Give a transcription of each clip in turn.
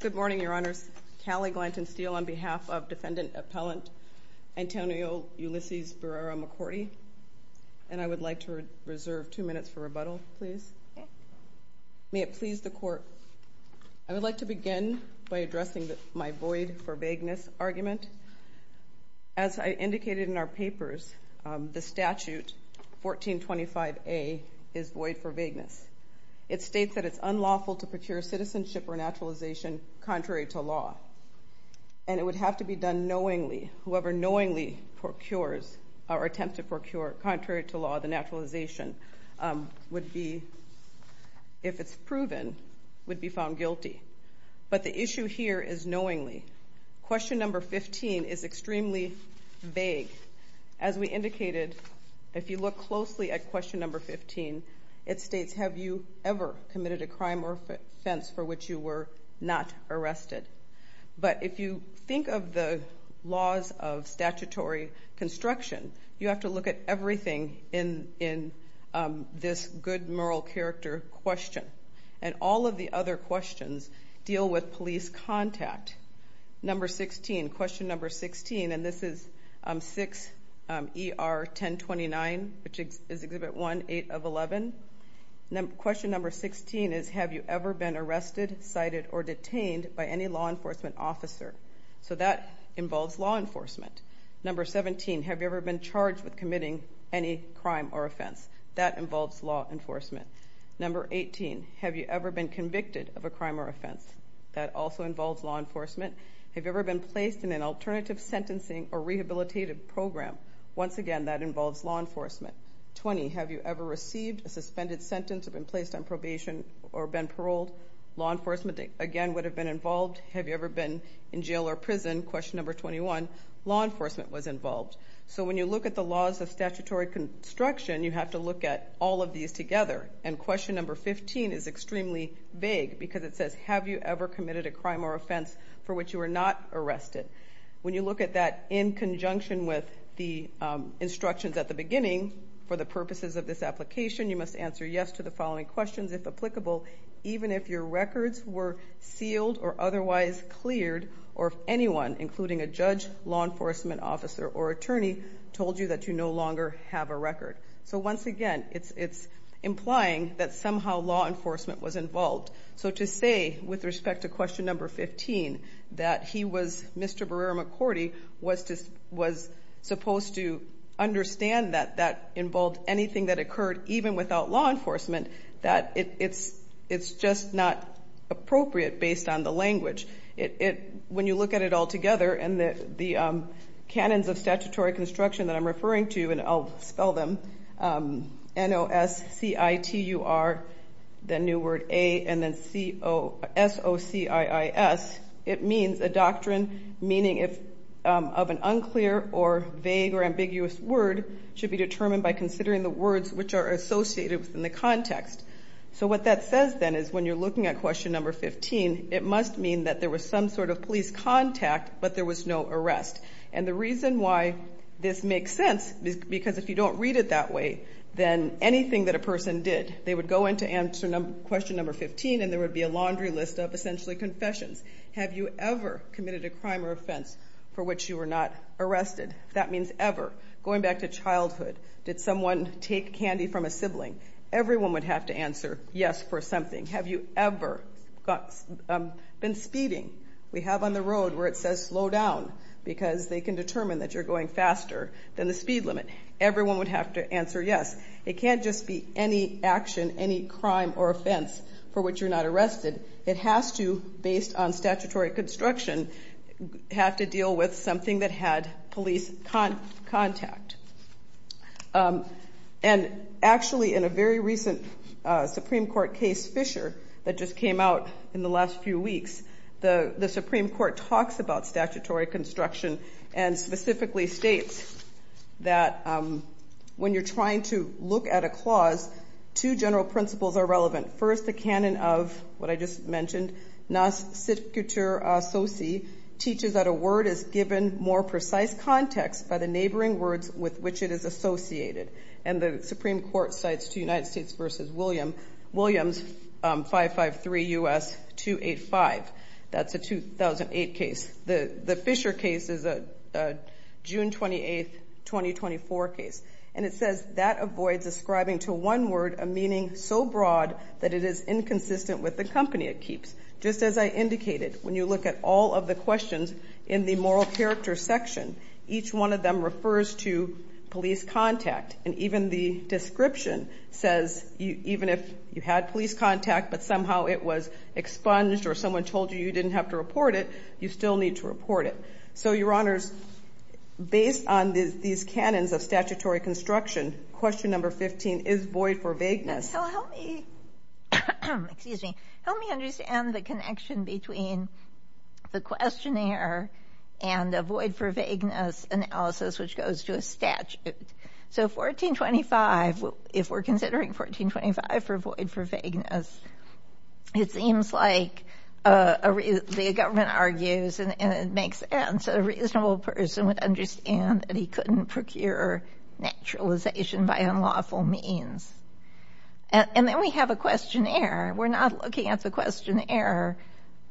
Good morning, Your Honors. Callie Glanton-Steele on behalf of Defendant Appellant Antonio Ulysses Barrera-Mackorty. And I would like to reserve two minutes for rebuttal, please. May it please the Court, I would like to begin by addressing my void for vagueness argument. As I indicated in our papers, the statute 1425A is void for vagueness. It states that it's unlawful to procure citizenship or naturalization contrary to law. And it would have to be done knowingly, whoever knowingly procures or attempts to procure contrary to law the naturalization would be, if it's proven, would be found guilty. But the issue here is knowingly. Question number 15 is extremely vague. As we indicated, if you look closely at question number 15, it states, have you ever committed a crime or offense for which you were not arrested? But if you think of the laws of statutory construction, you have to look at everything in this good moral character question. And all of the other questions deal with police contact. Number 16, question number 16, and this is 6ER1029, which is Exhibit 1, 8 of 11. Question number 16 is, have you ever been arrested, cited, or detained by any law enforcement officer? So that involves law enforcement. Number 17, have you ever been charged with committing any crime or offense? That involves law enforcement. Number 18, have you ever been convicted of a crime or offense? That also involves law enforcement. Have you ever been placed in an alternative sentencing or rehabilitative program? Once again, that involves law enforcement. 20, have you ever received a suspended sentence or been placed on probation or been paroled? Law enforcement, again, would have been involved. Have you ever been in jail or prison? Question number 21, law enforcement was involved. So when you look at the laws of statutory construction, you have to look at all of these together. And question number 15 is extremely vague because it says, have you ever committed a crime or offense for which you were not arrested? When you look at that in conjunction with the instructions at the beginning, for the purposes of this application, you must answer yes to the following questions, if applicable, even if your records were sealed or otherwise cleared, or if anyone, including a judge, law enforcement officer, or attorney, told you that you no longer have a record. So once again, it's implying that somehow law enforcement was involved. So to say, with respect to question number 15, that he was, Mr. Barrera-McCordy, was supposed to understand that that involved anything that occurred even without law enforcement, that it's just not appropriate based on the language. When you look at it all together, and the canons of statutory construction that I'm referring to, N-O-S-C-I-T-U-R, the new word A, and then S-O-C-I-I-S, it means a doctrine, meaning of an unclear or vague or ambiguous word, should be determined by considering the words which are associated within the context. So what that says, then, is when you're looking at question number 15, it must mean that there was some sort of police contact, but there was no arrest. And the reason why this makes sense is because if you don't read it that way, then anything that a person did, they would go in to answer question number 15, and there would be a laundry list of essentially confessions. Have you ever committed a crime or offense for which you were not arrested? That means ever. Going back to childhood, did someone take candy from a sibling? Everyone would have to answer yes for something. Have you ever been speeding? We have on the road where it says slow down, because they can determine that you're going faster than the speed limit. Everyone would have to answer yes. It can't just be any action, any crime or offense for which you're not arrested. It has to, based on statutory construction, have to deal with something that had police contact. And actually, in a very recent Supreme Court case, Fisher, that just came out in the last few weeks, the Supreme Court talks about statutory construction and specifically states that when you're trying to look at a clause, two general principles are relevant. First, the canon of, what I just mentioned, nasciture associ teaches that a word is given more precise context by the neighboring words with which it is associated. And the Supreme Court cites, to United States v. Williams, 553 U.S. 285. That's a 2008 case. The Fisher case is a June 28, 2024 case. And it says that avoids ascribing to one word a meaning so broad that it is inconsistent with the company it keeps. Just as I indicated, when you look at all of the questions in the moral character section, each one of them refers to police contact. And even the description says, even if you had police contact, but somehow it was expunged or someone told you you didn't have to report it, you still need to report it. So, Your Honors, based on these canons of statutory construction, question number 15, is void for vagueness? So, help me, excuse me, help me understand the connection between the questionnaire and a void for vagueness analysis, which goes to a statute. So 1425, if we're considering 1425 for void for vagueness, it seems like the government argues and it makes sense, a reasonable person would understand that he couldn't procure naturalization by unlawful means. And then we have a questionnaire. We're not looking at the questionnaire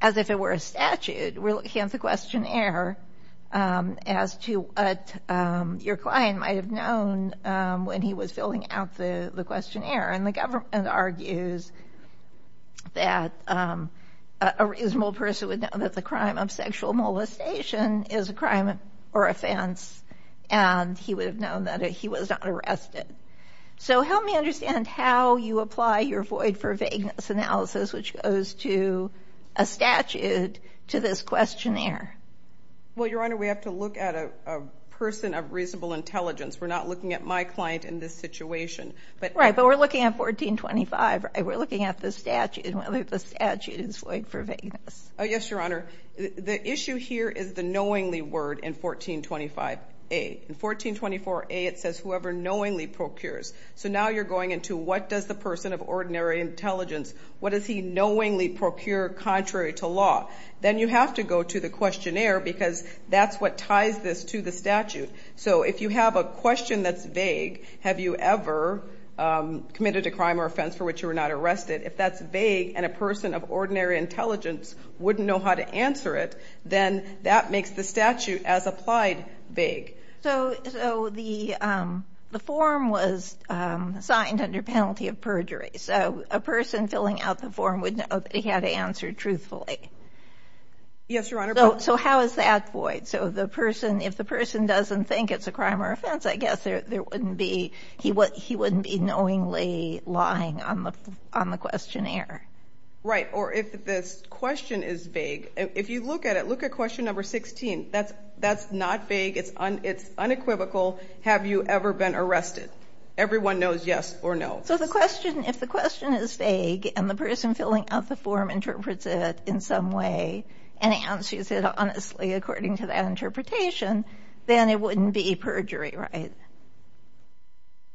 as if it were a statute. We're looking at the questionnaire as to what your client might have known when he was filling out the questionnaire. And the government argues that a reasonable person would know that the crime of sexual molestation is a crime or offense, and he would have known that he was not arrested. So help me understand how you apply your void for vagueness analysis, which goes to a statute, to this questionnaire. Well, Your Honor, we have to look at a person of reasonable intelligence. We're not looking at my client in this situation. Right, but we're looking at 1425. We're looking at the statute and whether the statute is void for vagueness. Yes, Your Honor. The issue here is the knowingly word in 1425A. In 1424A, it says whoever knowingly procures. So now you're going into what does the person of ordinary intelligence, what does he knowingly procure contrary to law? Then you have to go to the questionnaire because that's what ties this to the statute. So if you have a question that's vague, have you ever committed a crime or offense for which you were not arrested? If that's vague and a person of ordinary intelligence wouldn't know how to answer it, then that makes the statute as applied vague. So the form was signed under penalty of perjury. So a person filling out the form would know that he had answered truthfully. Yes, Your Honor. So how is that void? So if the person doesn't think it's a crime or offense, I guess he wouldn't be knowingly relying on the questionnaire. Right. Or if this question is vague, if you look at it, look at question number 16. That's not vague. It's unequivocal. Have you ever been arrested? Everyone knows yes or no. So if the question is vague and the person filling out the form interprets it in some way and answers it honestly according to that interpretation, then it wouldn't be perjury, right?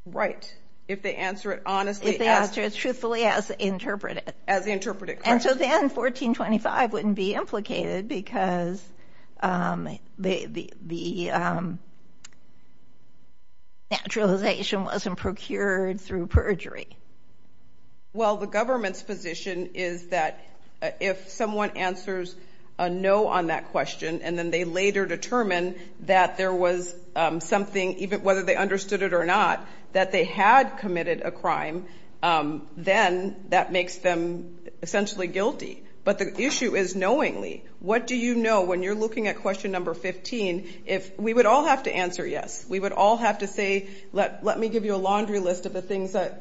Right. If they answer it honestly. If they answer it truthfully as interpreted. As interpreted, correct. And so then 1425 wouldn't be implicated because the naturalization wasn't procured through perjury. Well, the government's position is that if someone answers a no on that question and then they later determine that there was something, even whether they understood it or not, that they had committed a crime, then that makes them essentially guilty. But the issue is knowingly. What do you know when you're looking at question number 15? If we would all have to answer yes, we would all have to say, let me give you a laundry list of the things that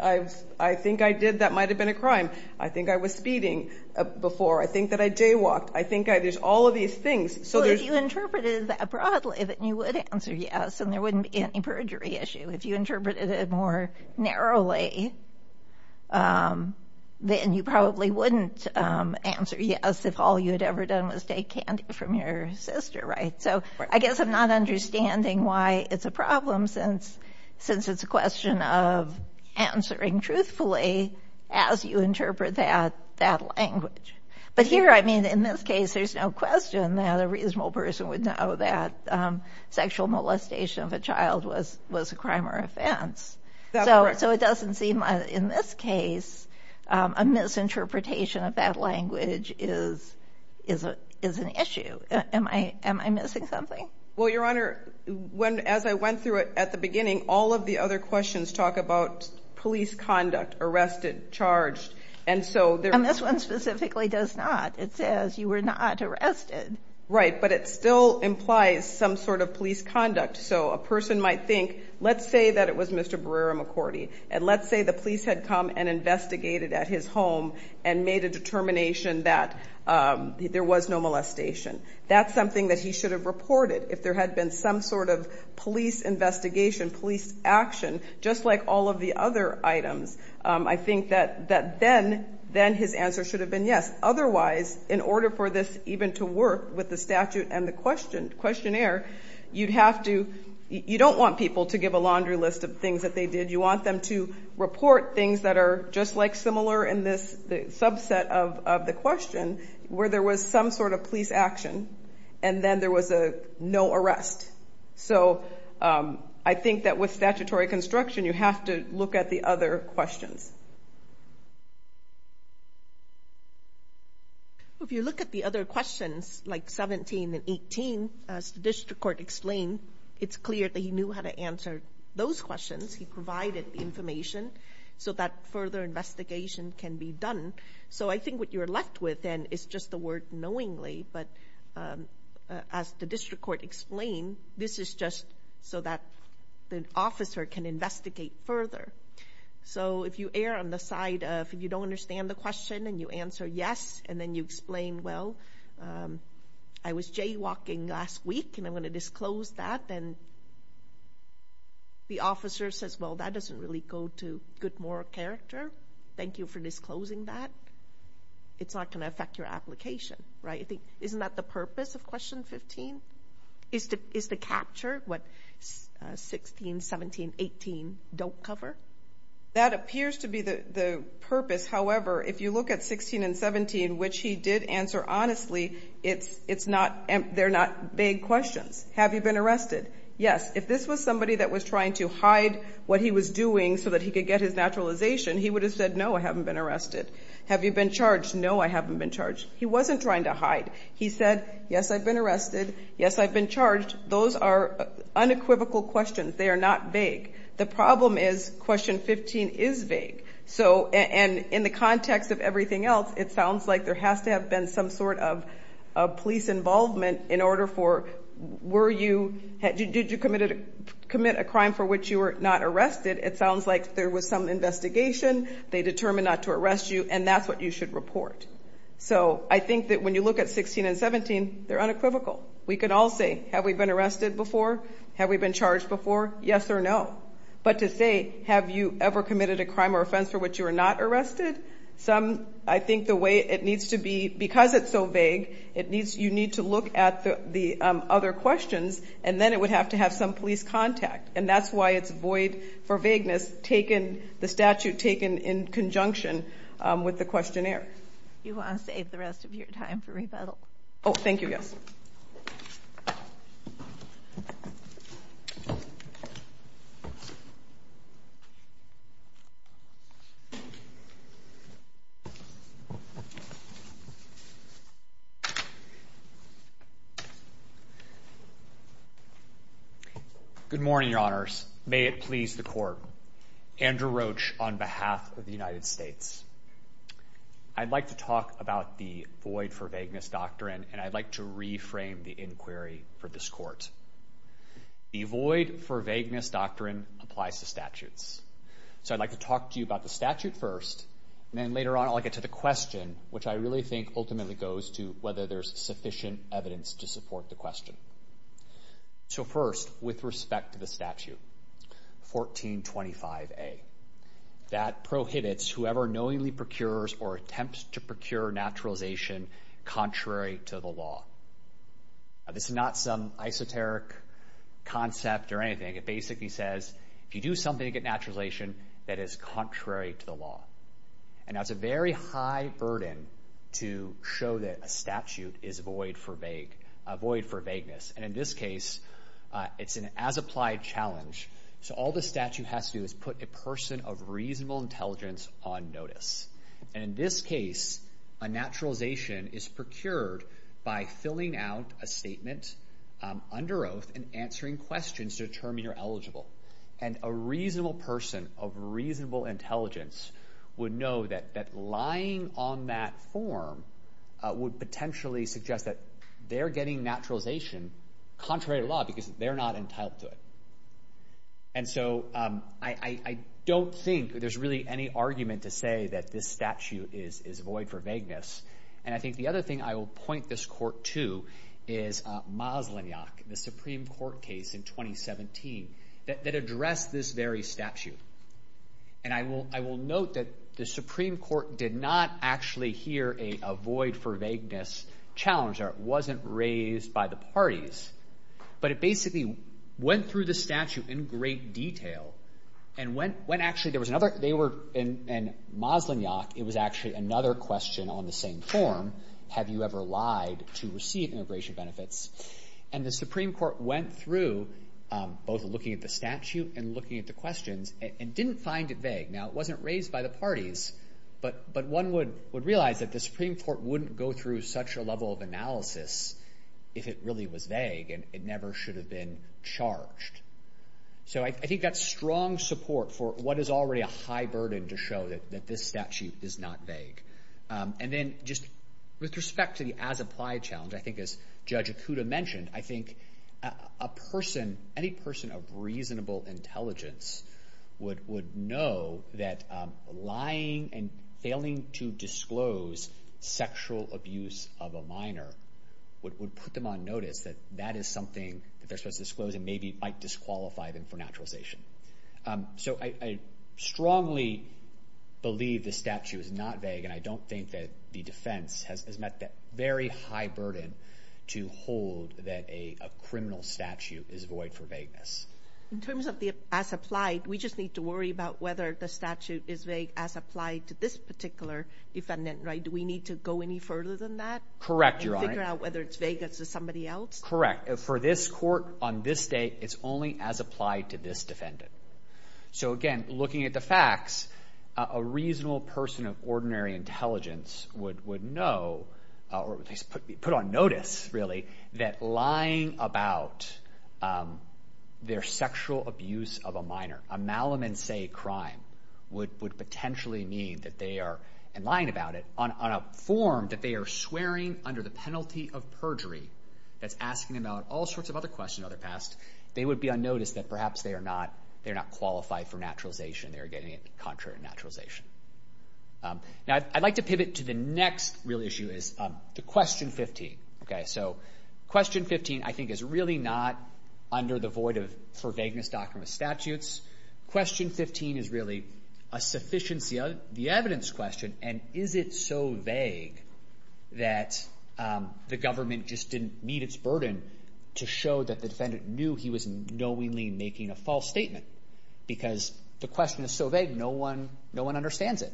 I think I did that might have been a crime. I think I was speeding before. I think that I jaywalked. I think there's all of these things. So if you interpreted that broadly, then you would answer yes and there wouldn't be any perjury issue. If you interpreted it more narrowly, then you probably wouldn't answer yes if all you had ever done was take candy from your sister, right? So I guess I'm not understanding why it's a problem since it's a question of answering truthfully as you interpret that language. But here, I mean, in this case, there's no question that a reasonable person would know that sexual molestation of a child was a crime or offense. So it doesn't seem, in this case, a misinterpretation of that language is an issue. Am I missing something? Well, Your Honor, as I went through it at the beginning, all of the other questions talk about police conduct, arrested, charged. And this one specifically does not. It says you were not arrested. Right. But it still implies some sort of police conduct. So a person might think, let's say that it was Mr. Barrera-McCordy. And let's say the police had come and investigated at his home and made a determination that there was no molestation. That's something that he should have reported if there had been some sort of police investigation, police action, just like all of the other items. I think that then his answer should have been yes. Because otherwise, in order for this even to work with the statute and the questionnaire, you'd have to, you don't want people to give a laundry list of things that they did. You want them to report things that are just like similar in this subset of the question where there was some sort of police action and then there was a no arrest. So I think that with statutory construction, you have to look at the other questions. Well, if you look at the other questions, like 17 and 18, as the district court explained, it's clear that he knew how to answer those questions. He provided the information so that further investigation can be done. So I think what you're left with then is just the word knowingly. But as the district court explained, this is just so that the officer can investigate further. So if you err on the side of, if you don't understand the question and you answer yes, and then you explain, well, I was jaywalking last week and I'm going to disclose that, then the officer says, well, that doesn't really go to good moral character. Thank you for disclosing that. It's not going to affect your application, right? I think, isn't that the purpose of question 15, is to capture what 16, 17, 18 don't cover? That appears to be the purpose. However, if you look at 16 and 17, which he did answer honestly, it's not, they're not big questions. Have you been arrested? Yes. If this was somebody that was trying to hide what he was doing so that he could get his naturalization, he would have said, no, I haven't been arrested. Have you been charged? No, I haven't been charged. He wasn't trying to hide. He said, yes, I've been arrested. Yes, I've been charged. Those are unequivocal questions. They are not vague. The problem is question 15 is vague. So, and in the context of everything else, it sounds like there has to have been some sort of police involvement in order for, were you, did you commit a crime for which you were not arrested? It sounds like there was some investigation. They determined not to arrest you, and that's what you should report. So, I think that when you look at 16 and 17, they're unequivocal. We can all say, have we been arrested before? Have we been charged before? Yes or no. But to say, have you ever committed a crime or offense for which you were not arrested? Some, I think the way it needs to be, because it's so vague, it needs, you need to look at the other questions, and then it would have to have some police contact. And that's why it's void for vagueness, taken, the statute taken in conjunction with the questionnaire. You want to save the rest of your time for rebuttal? Oh, thank you, yes. Good morning, your honors. May it please the court. Andrew Roach, on behalf of the United States. I'd like to talk about the void for vagueness doctrine, and I'd like to reframe the inquiry for this court. The void for vagueness doctrine applies to statutes. So, I'd like to talk to you about the statute first, and then later on I'll get to the question, which I really think ultimately goes to whether there's sufficient evidence to support the question. So, first, with respect to the statute, 1425A. That prohibits whoever knowingly procures or attempts to procure naturalization contrary to the law. Now, this is not some esoteric concept or anything. It basically says, if you do something to get naturalization that is contrary to the law. And that's a very high burden to show that a statute is void for vague, void for vagueness. And in this case, it's an as-applied challenge. So, all the statute has to do is put a person of reasonable intelligence on notice. And in this case, a naturalization is procured by filling out a statement under oath and answering questions to determine you're eligible. And a reasonable person of reasonable intelligence would know that lying on that form would potentially suggest that they're getting naturalization contrary to law because they're not entitled to it. And so, I don't think there's really any argument to say that this statute is void for vagueness. And I think the other thing I will point this court to is Maslanyak, the Supreme Court case in 2017 that addressed this very statute. And I will note that the Supreme Court did not actually hear a void for vagueness challenge. It wasn't raised by the parties. But it basically went through the statute in great detail. And when actually there was another, they were, in Maslanyak, it was actually another question on the same form. Have you ever lied to receive immigration benefits? And the Supreme Court went through both looking at the statute and looking at the questions. And didn't find it vague. Now, it wasn't raised by the parties. But one would realize that the Supreme Court wouldn't go through such a level of analysis if it really was vague. And it never should have been charged. So, I think that's strong support for what is already a high burden to show that this statute is not vague. And then, just with respect to the as-applied challenge, I think as Judge Ikuda mentioned, I think a person, any person of reasonable intelligence would know that lying and failing to disclose sexual abuse of a minor would put them on notice that that is something that they're supposed to disclose and maybe might disqualify them for naturalization. So, I strongly believe the statute is not vague. And I don't think that the defense has met that very high burden to hold that a criminal statute is void for vagueness. In terms of the as-applied, we just need to worry about whether the statute is vague as applied to this particular defendant, right? Do we need to go any further than that? Correct, Your Honor. And figure out whether it's vague as to somebody else? Correct. For this court on this day, it's only as applied to this defendant. So, again, looking at the facts, a reasonable person of ordinary intelligence would know, or at least put on notice, really, that lying about their sexual abuse of a minor, a malum in se crime, would potentially mean that they are, in lying about it, on a form that they are swearing under the penalty of perjury, that's asking about all sorts of other questions in the past, they would be on notice that perhaps they are not qualified for naturalization. They are getting it contrary to naturalization. Now, I'd like to pivot to the next real issue is to Question 15. So, Question 15, I think, is really not under the void for vagueness doctrine of statutes. Question 15 is really a sufficiency of the evidence question. And is it so vague that the government just didn't meet its burden to show that the defendant knew he was knowingly making a false statement? Because the question is so vague, no one understands it.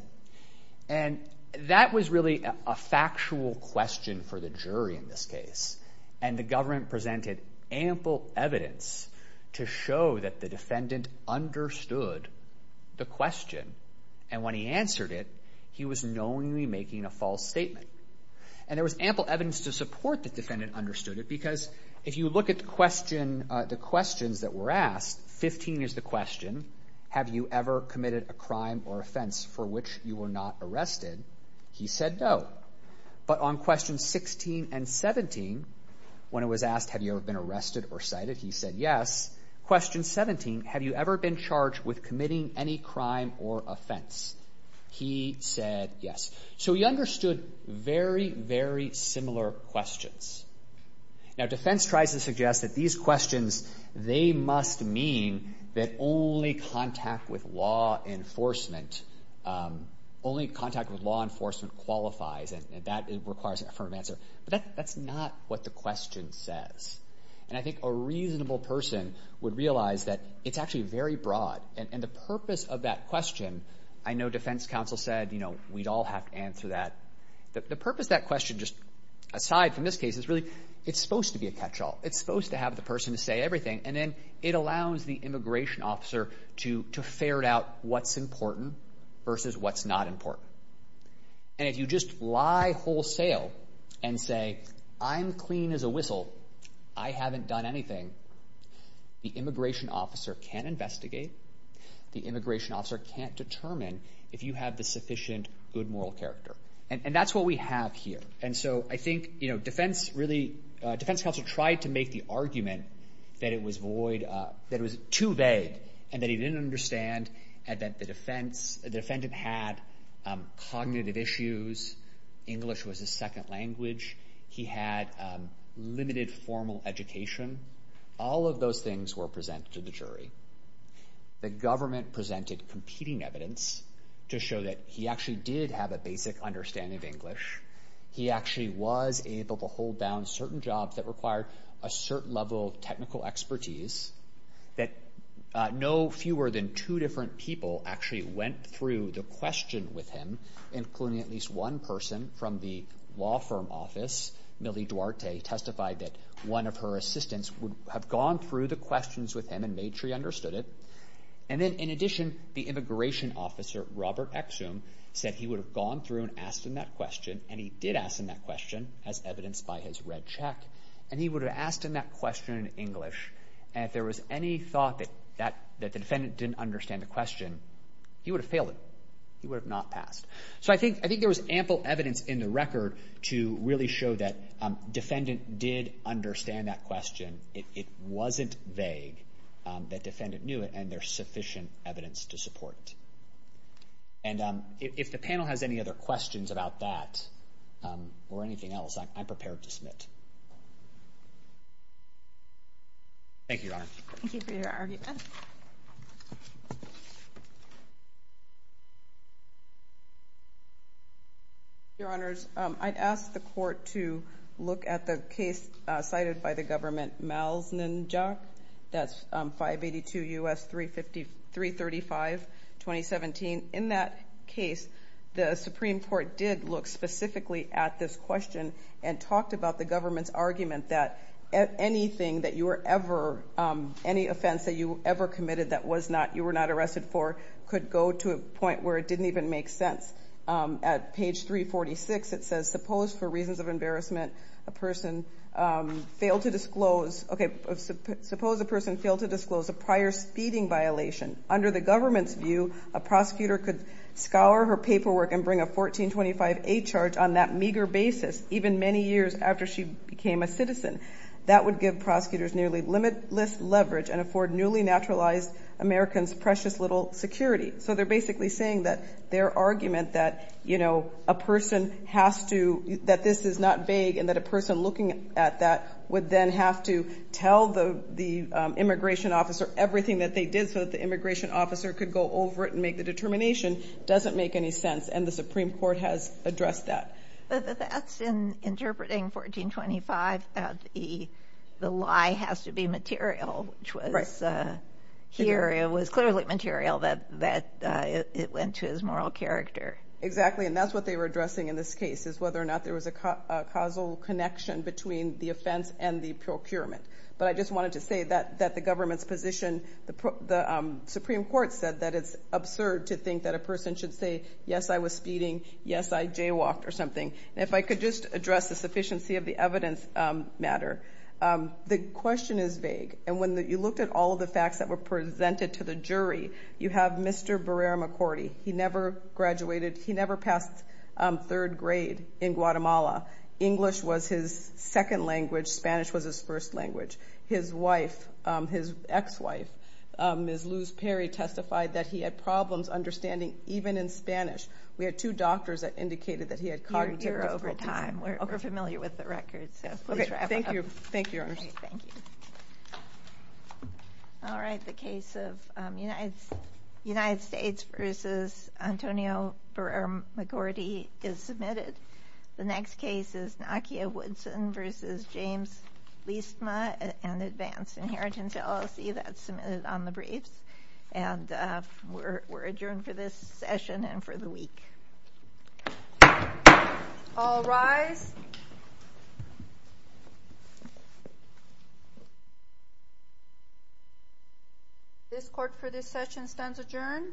And that was really a factual question for the jury in this case. And the government presented ample evidence to show that the defendant understood the question. And when he answered it, he was knowingly making a false statement. And there was ample evidence to support the defendant understood it, because if you look at the questions that were asked, 15 is the question, have you ever committed a crime or offense for which you were not arrested? He said no. But on Question 16 and 17, when it was asked, have you ever been arrested or cited? He said yes. Question 17, have you ever been charged with committing any crime or offense? He said yes. So he understood very, very similar questions. Now, defense tries to suggest that these questions, they must mean that only contact with law enforcement, only contact with law enforcement qualifies and that it requires an affirmative answer. But that's not what the question says. And I think a reasonable person would realize that it's actually very broad. And the purpose of that question, I know defense counsel said, you know, we'd all have to answer that. The purpose of that question, just aside from this case, is really it's supposed to be a catch-all. It's supposed to have the person to say everything. And then it allows the immigration officer to ferret out what's important versus what's not important. And if you just lie wholesale and say, I'm clean as a whistle, I haven't done anything, the immigration officer can't investigate. The immigration officer can't determine if you have the sufficient good moral character. And that's what we have here. And so I think, you know, defense really, defense counsel tried to make the argument that it was void, that it was too vague and that he didn't understand and that the defendant had cognitive issues. English was his second language. He had limited formal education. All of those things were presented to the jury. The government presented competing evidence to show that he actually did have a basic understanding of English. He actually was able to hold down certain jobs that required a certain level of technical expertise, that no fewer than two different people actually went through the question with him, including at least one person from the law firm office. Millie Duarte testified that one of her assistants would have gone through the questions with him and made sure he understood it. And then, in addition, the immigration officer, Robert Exum, said he would have gone through and asked him that question, and he did ask him that question, as evidenced by his red check, and he would have asked him that question in English. And if there was any thought that the defendant didn't understand the question, he would have failed it. He would have not passed. So I think there was ample evidence in the record to really show that defendant did understand that question. It wasn't vague that defendant knew it, and there's sufficient evidence to support it. And if the panel has any other questions about that or anything else, I'm prepared to submit. Thank you, Your Honor. Thank you for your argument. Thank you. Your Honors, I'd ask the Court to look at the case cited by the government, Malz-Ninjak. That's 582 U.S. 335, 2017. In that case, the Supreme Court did look specifically at this question and talked about the government's argument that anything that you were ever, any offense that you ever committed that you were not arrested for could go to a point where it didn't even make sense. At page 346, it says, suppose for reasons of embarrassment, a person failed to disclose, okay, suppose a person failed to disclose a prior speeding violation. Under the government's view, a prosecutor could scour her paperwork and bring a 1425A charge on that meager basis, even many years after she became a citizen. That would give prosecutors nearly limitless leverage and afford newly naturalized Americans precious little security. So they're basically saying that their argument that, you know, a person has to, that this is not vague, and that a person looking at that would then have to tell the immigration officer everything that they did so that the immigration officer could go over it and make the determination doesn't make any sense, and the Supreme Court has addressed that. But that's in interpreting 1425 that the lie has to be material, which was here it was clearly material that it went to his moral character. Exactly, and that's what they were addressing in this case, is whether or not there was a causal connection between the offense and the procurement. But I just wanted to say that the government's position, the Supreme Court said that it's absurd to think that a person should say, yes, I was speeding, yes, I jaywalked or something. And if I could just address the sufficiency of the evidence matter, the question is vague. And when you looked at all of the facts that were presented to the jury, you have Mr. Barrera-McCordy. He never graduated, he never passed third grade in Guatemala. English was his second language. Spanish was his first language. His wife, his ex-wife, Ms. Luz Perry, testified that he had problems understanding even in Spanish. We had two doctors that indicated that he had cognitive difficulties. You're over time. We're familiar with the records, so please wrap it up. Okay, thank you. Thank you, Your Honor. Thank you. All right, the case of United States v. Antonio Barrera-McCordy is submitted. The next case is Nakia Woodson v. James Listma and Advanced Inheritance, LLC. That's submitted on the briefs. And we're adjourned for this session and for the week. All rise. This court for this session stands adjourned.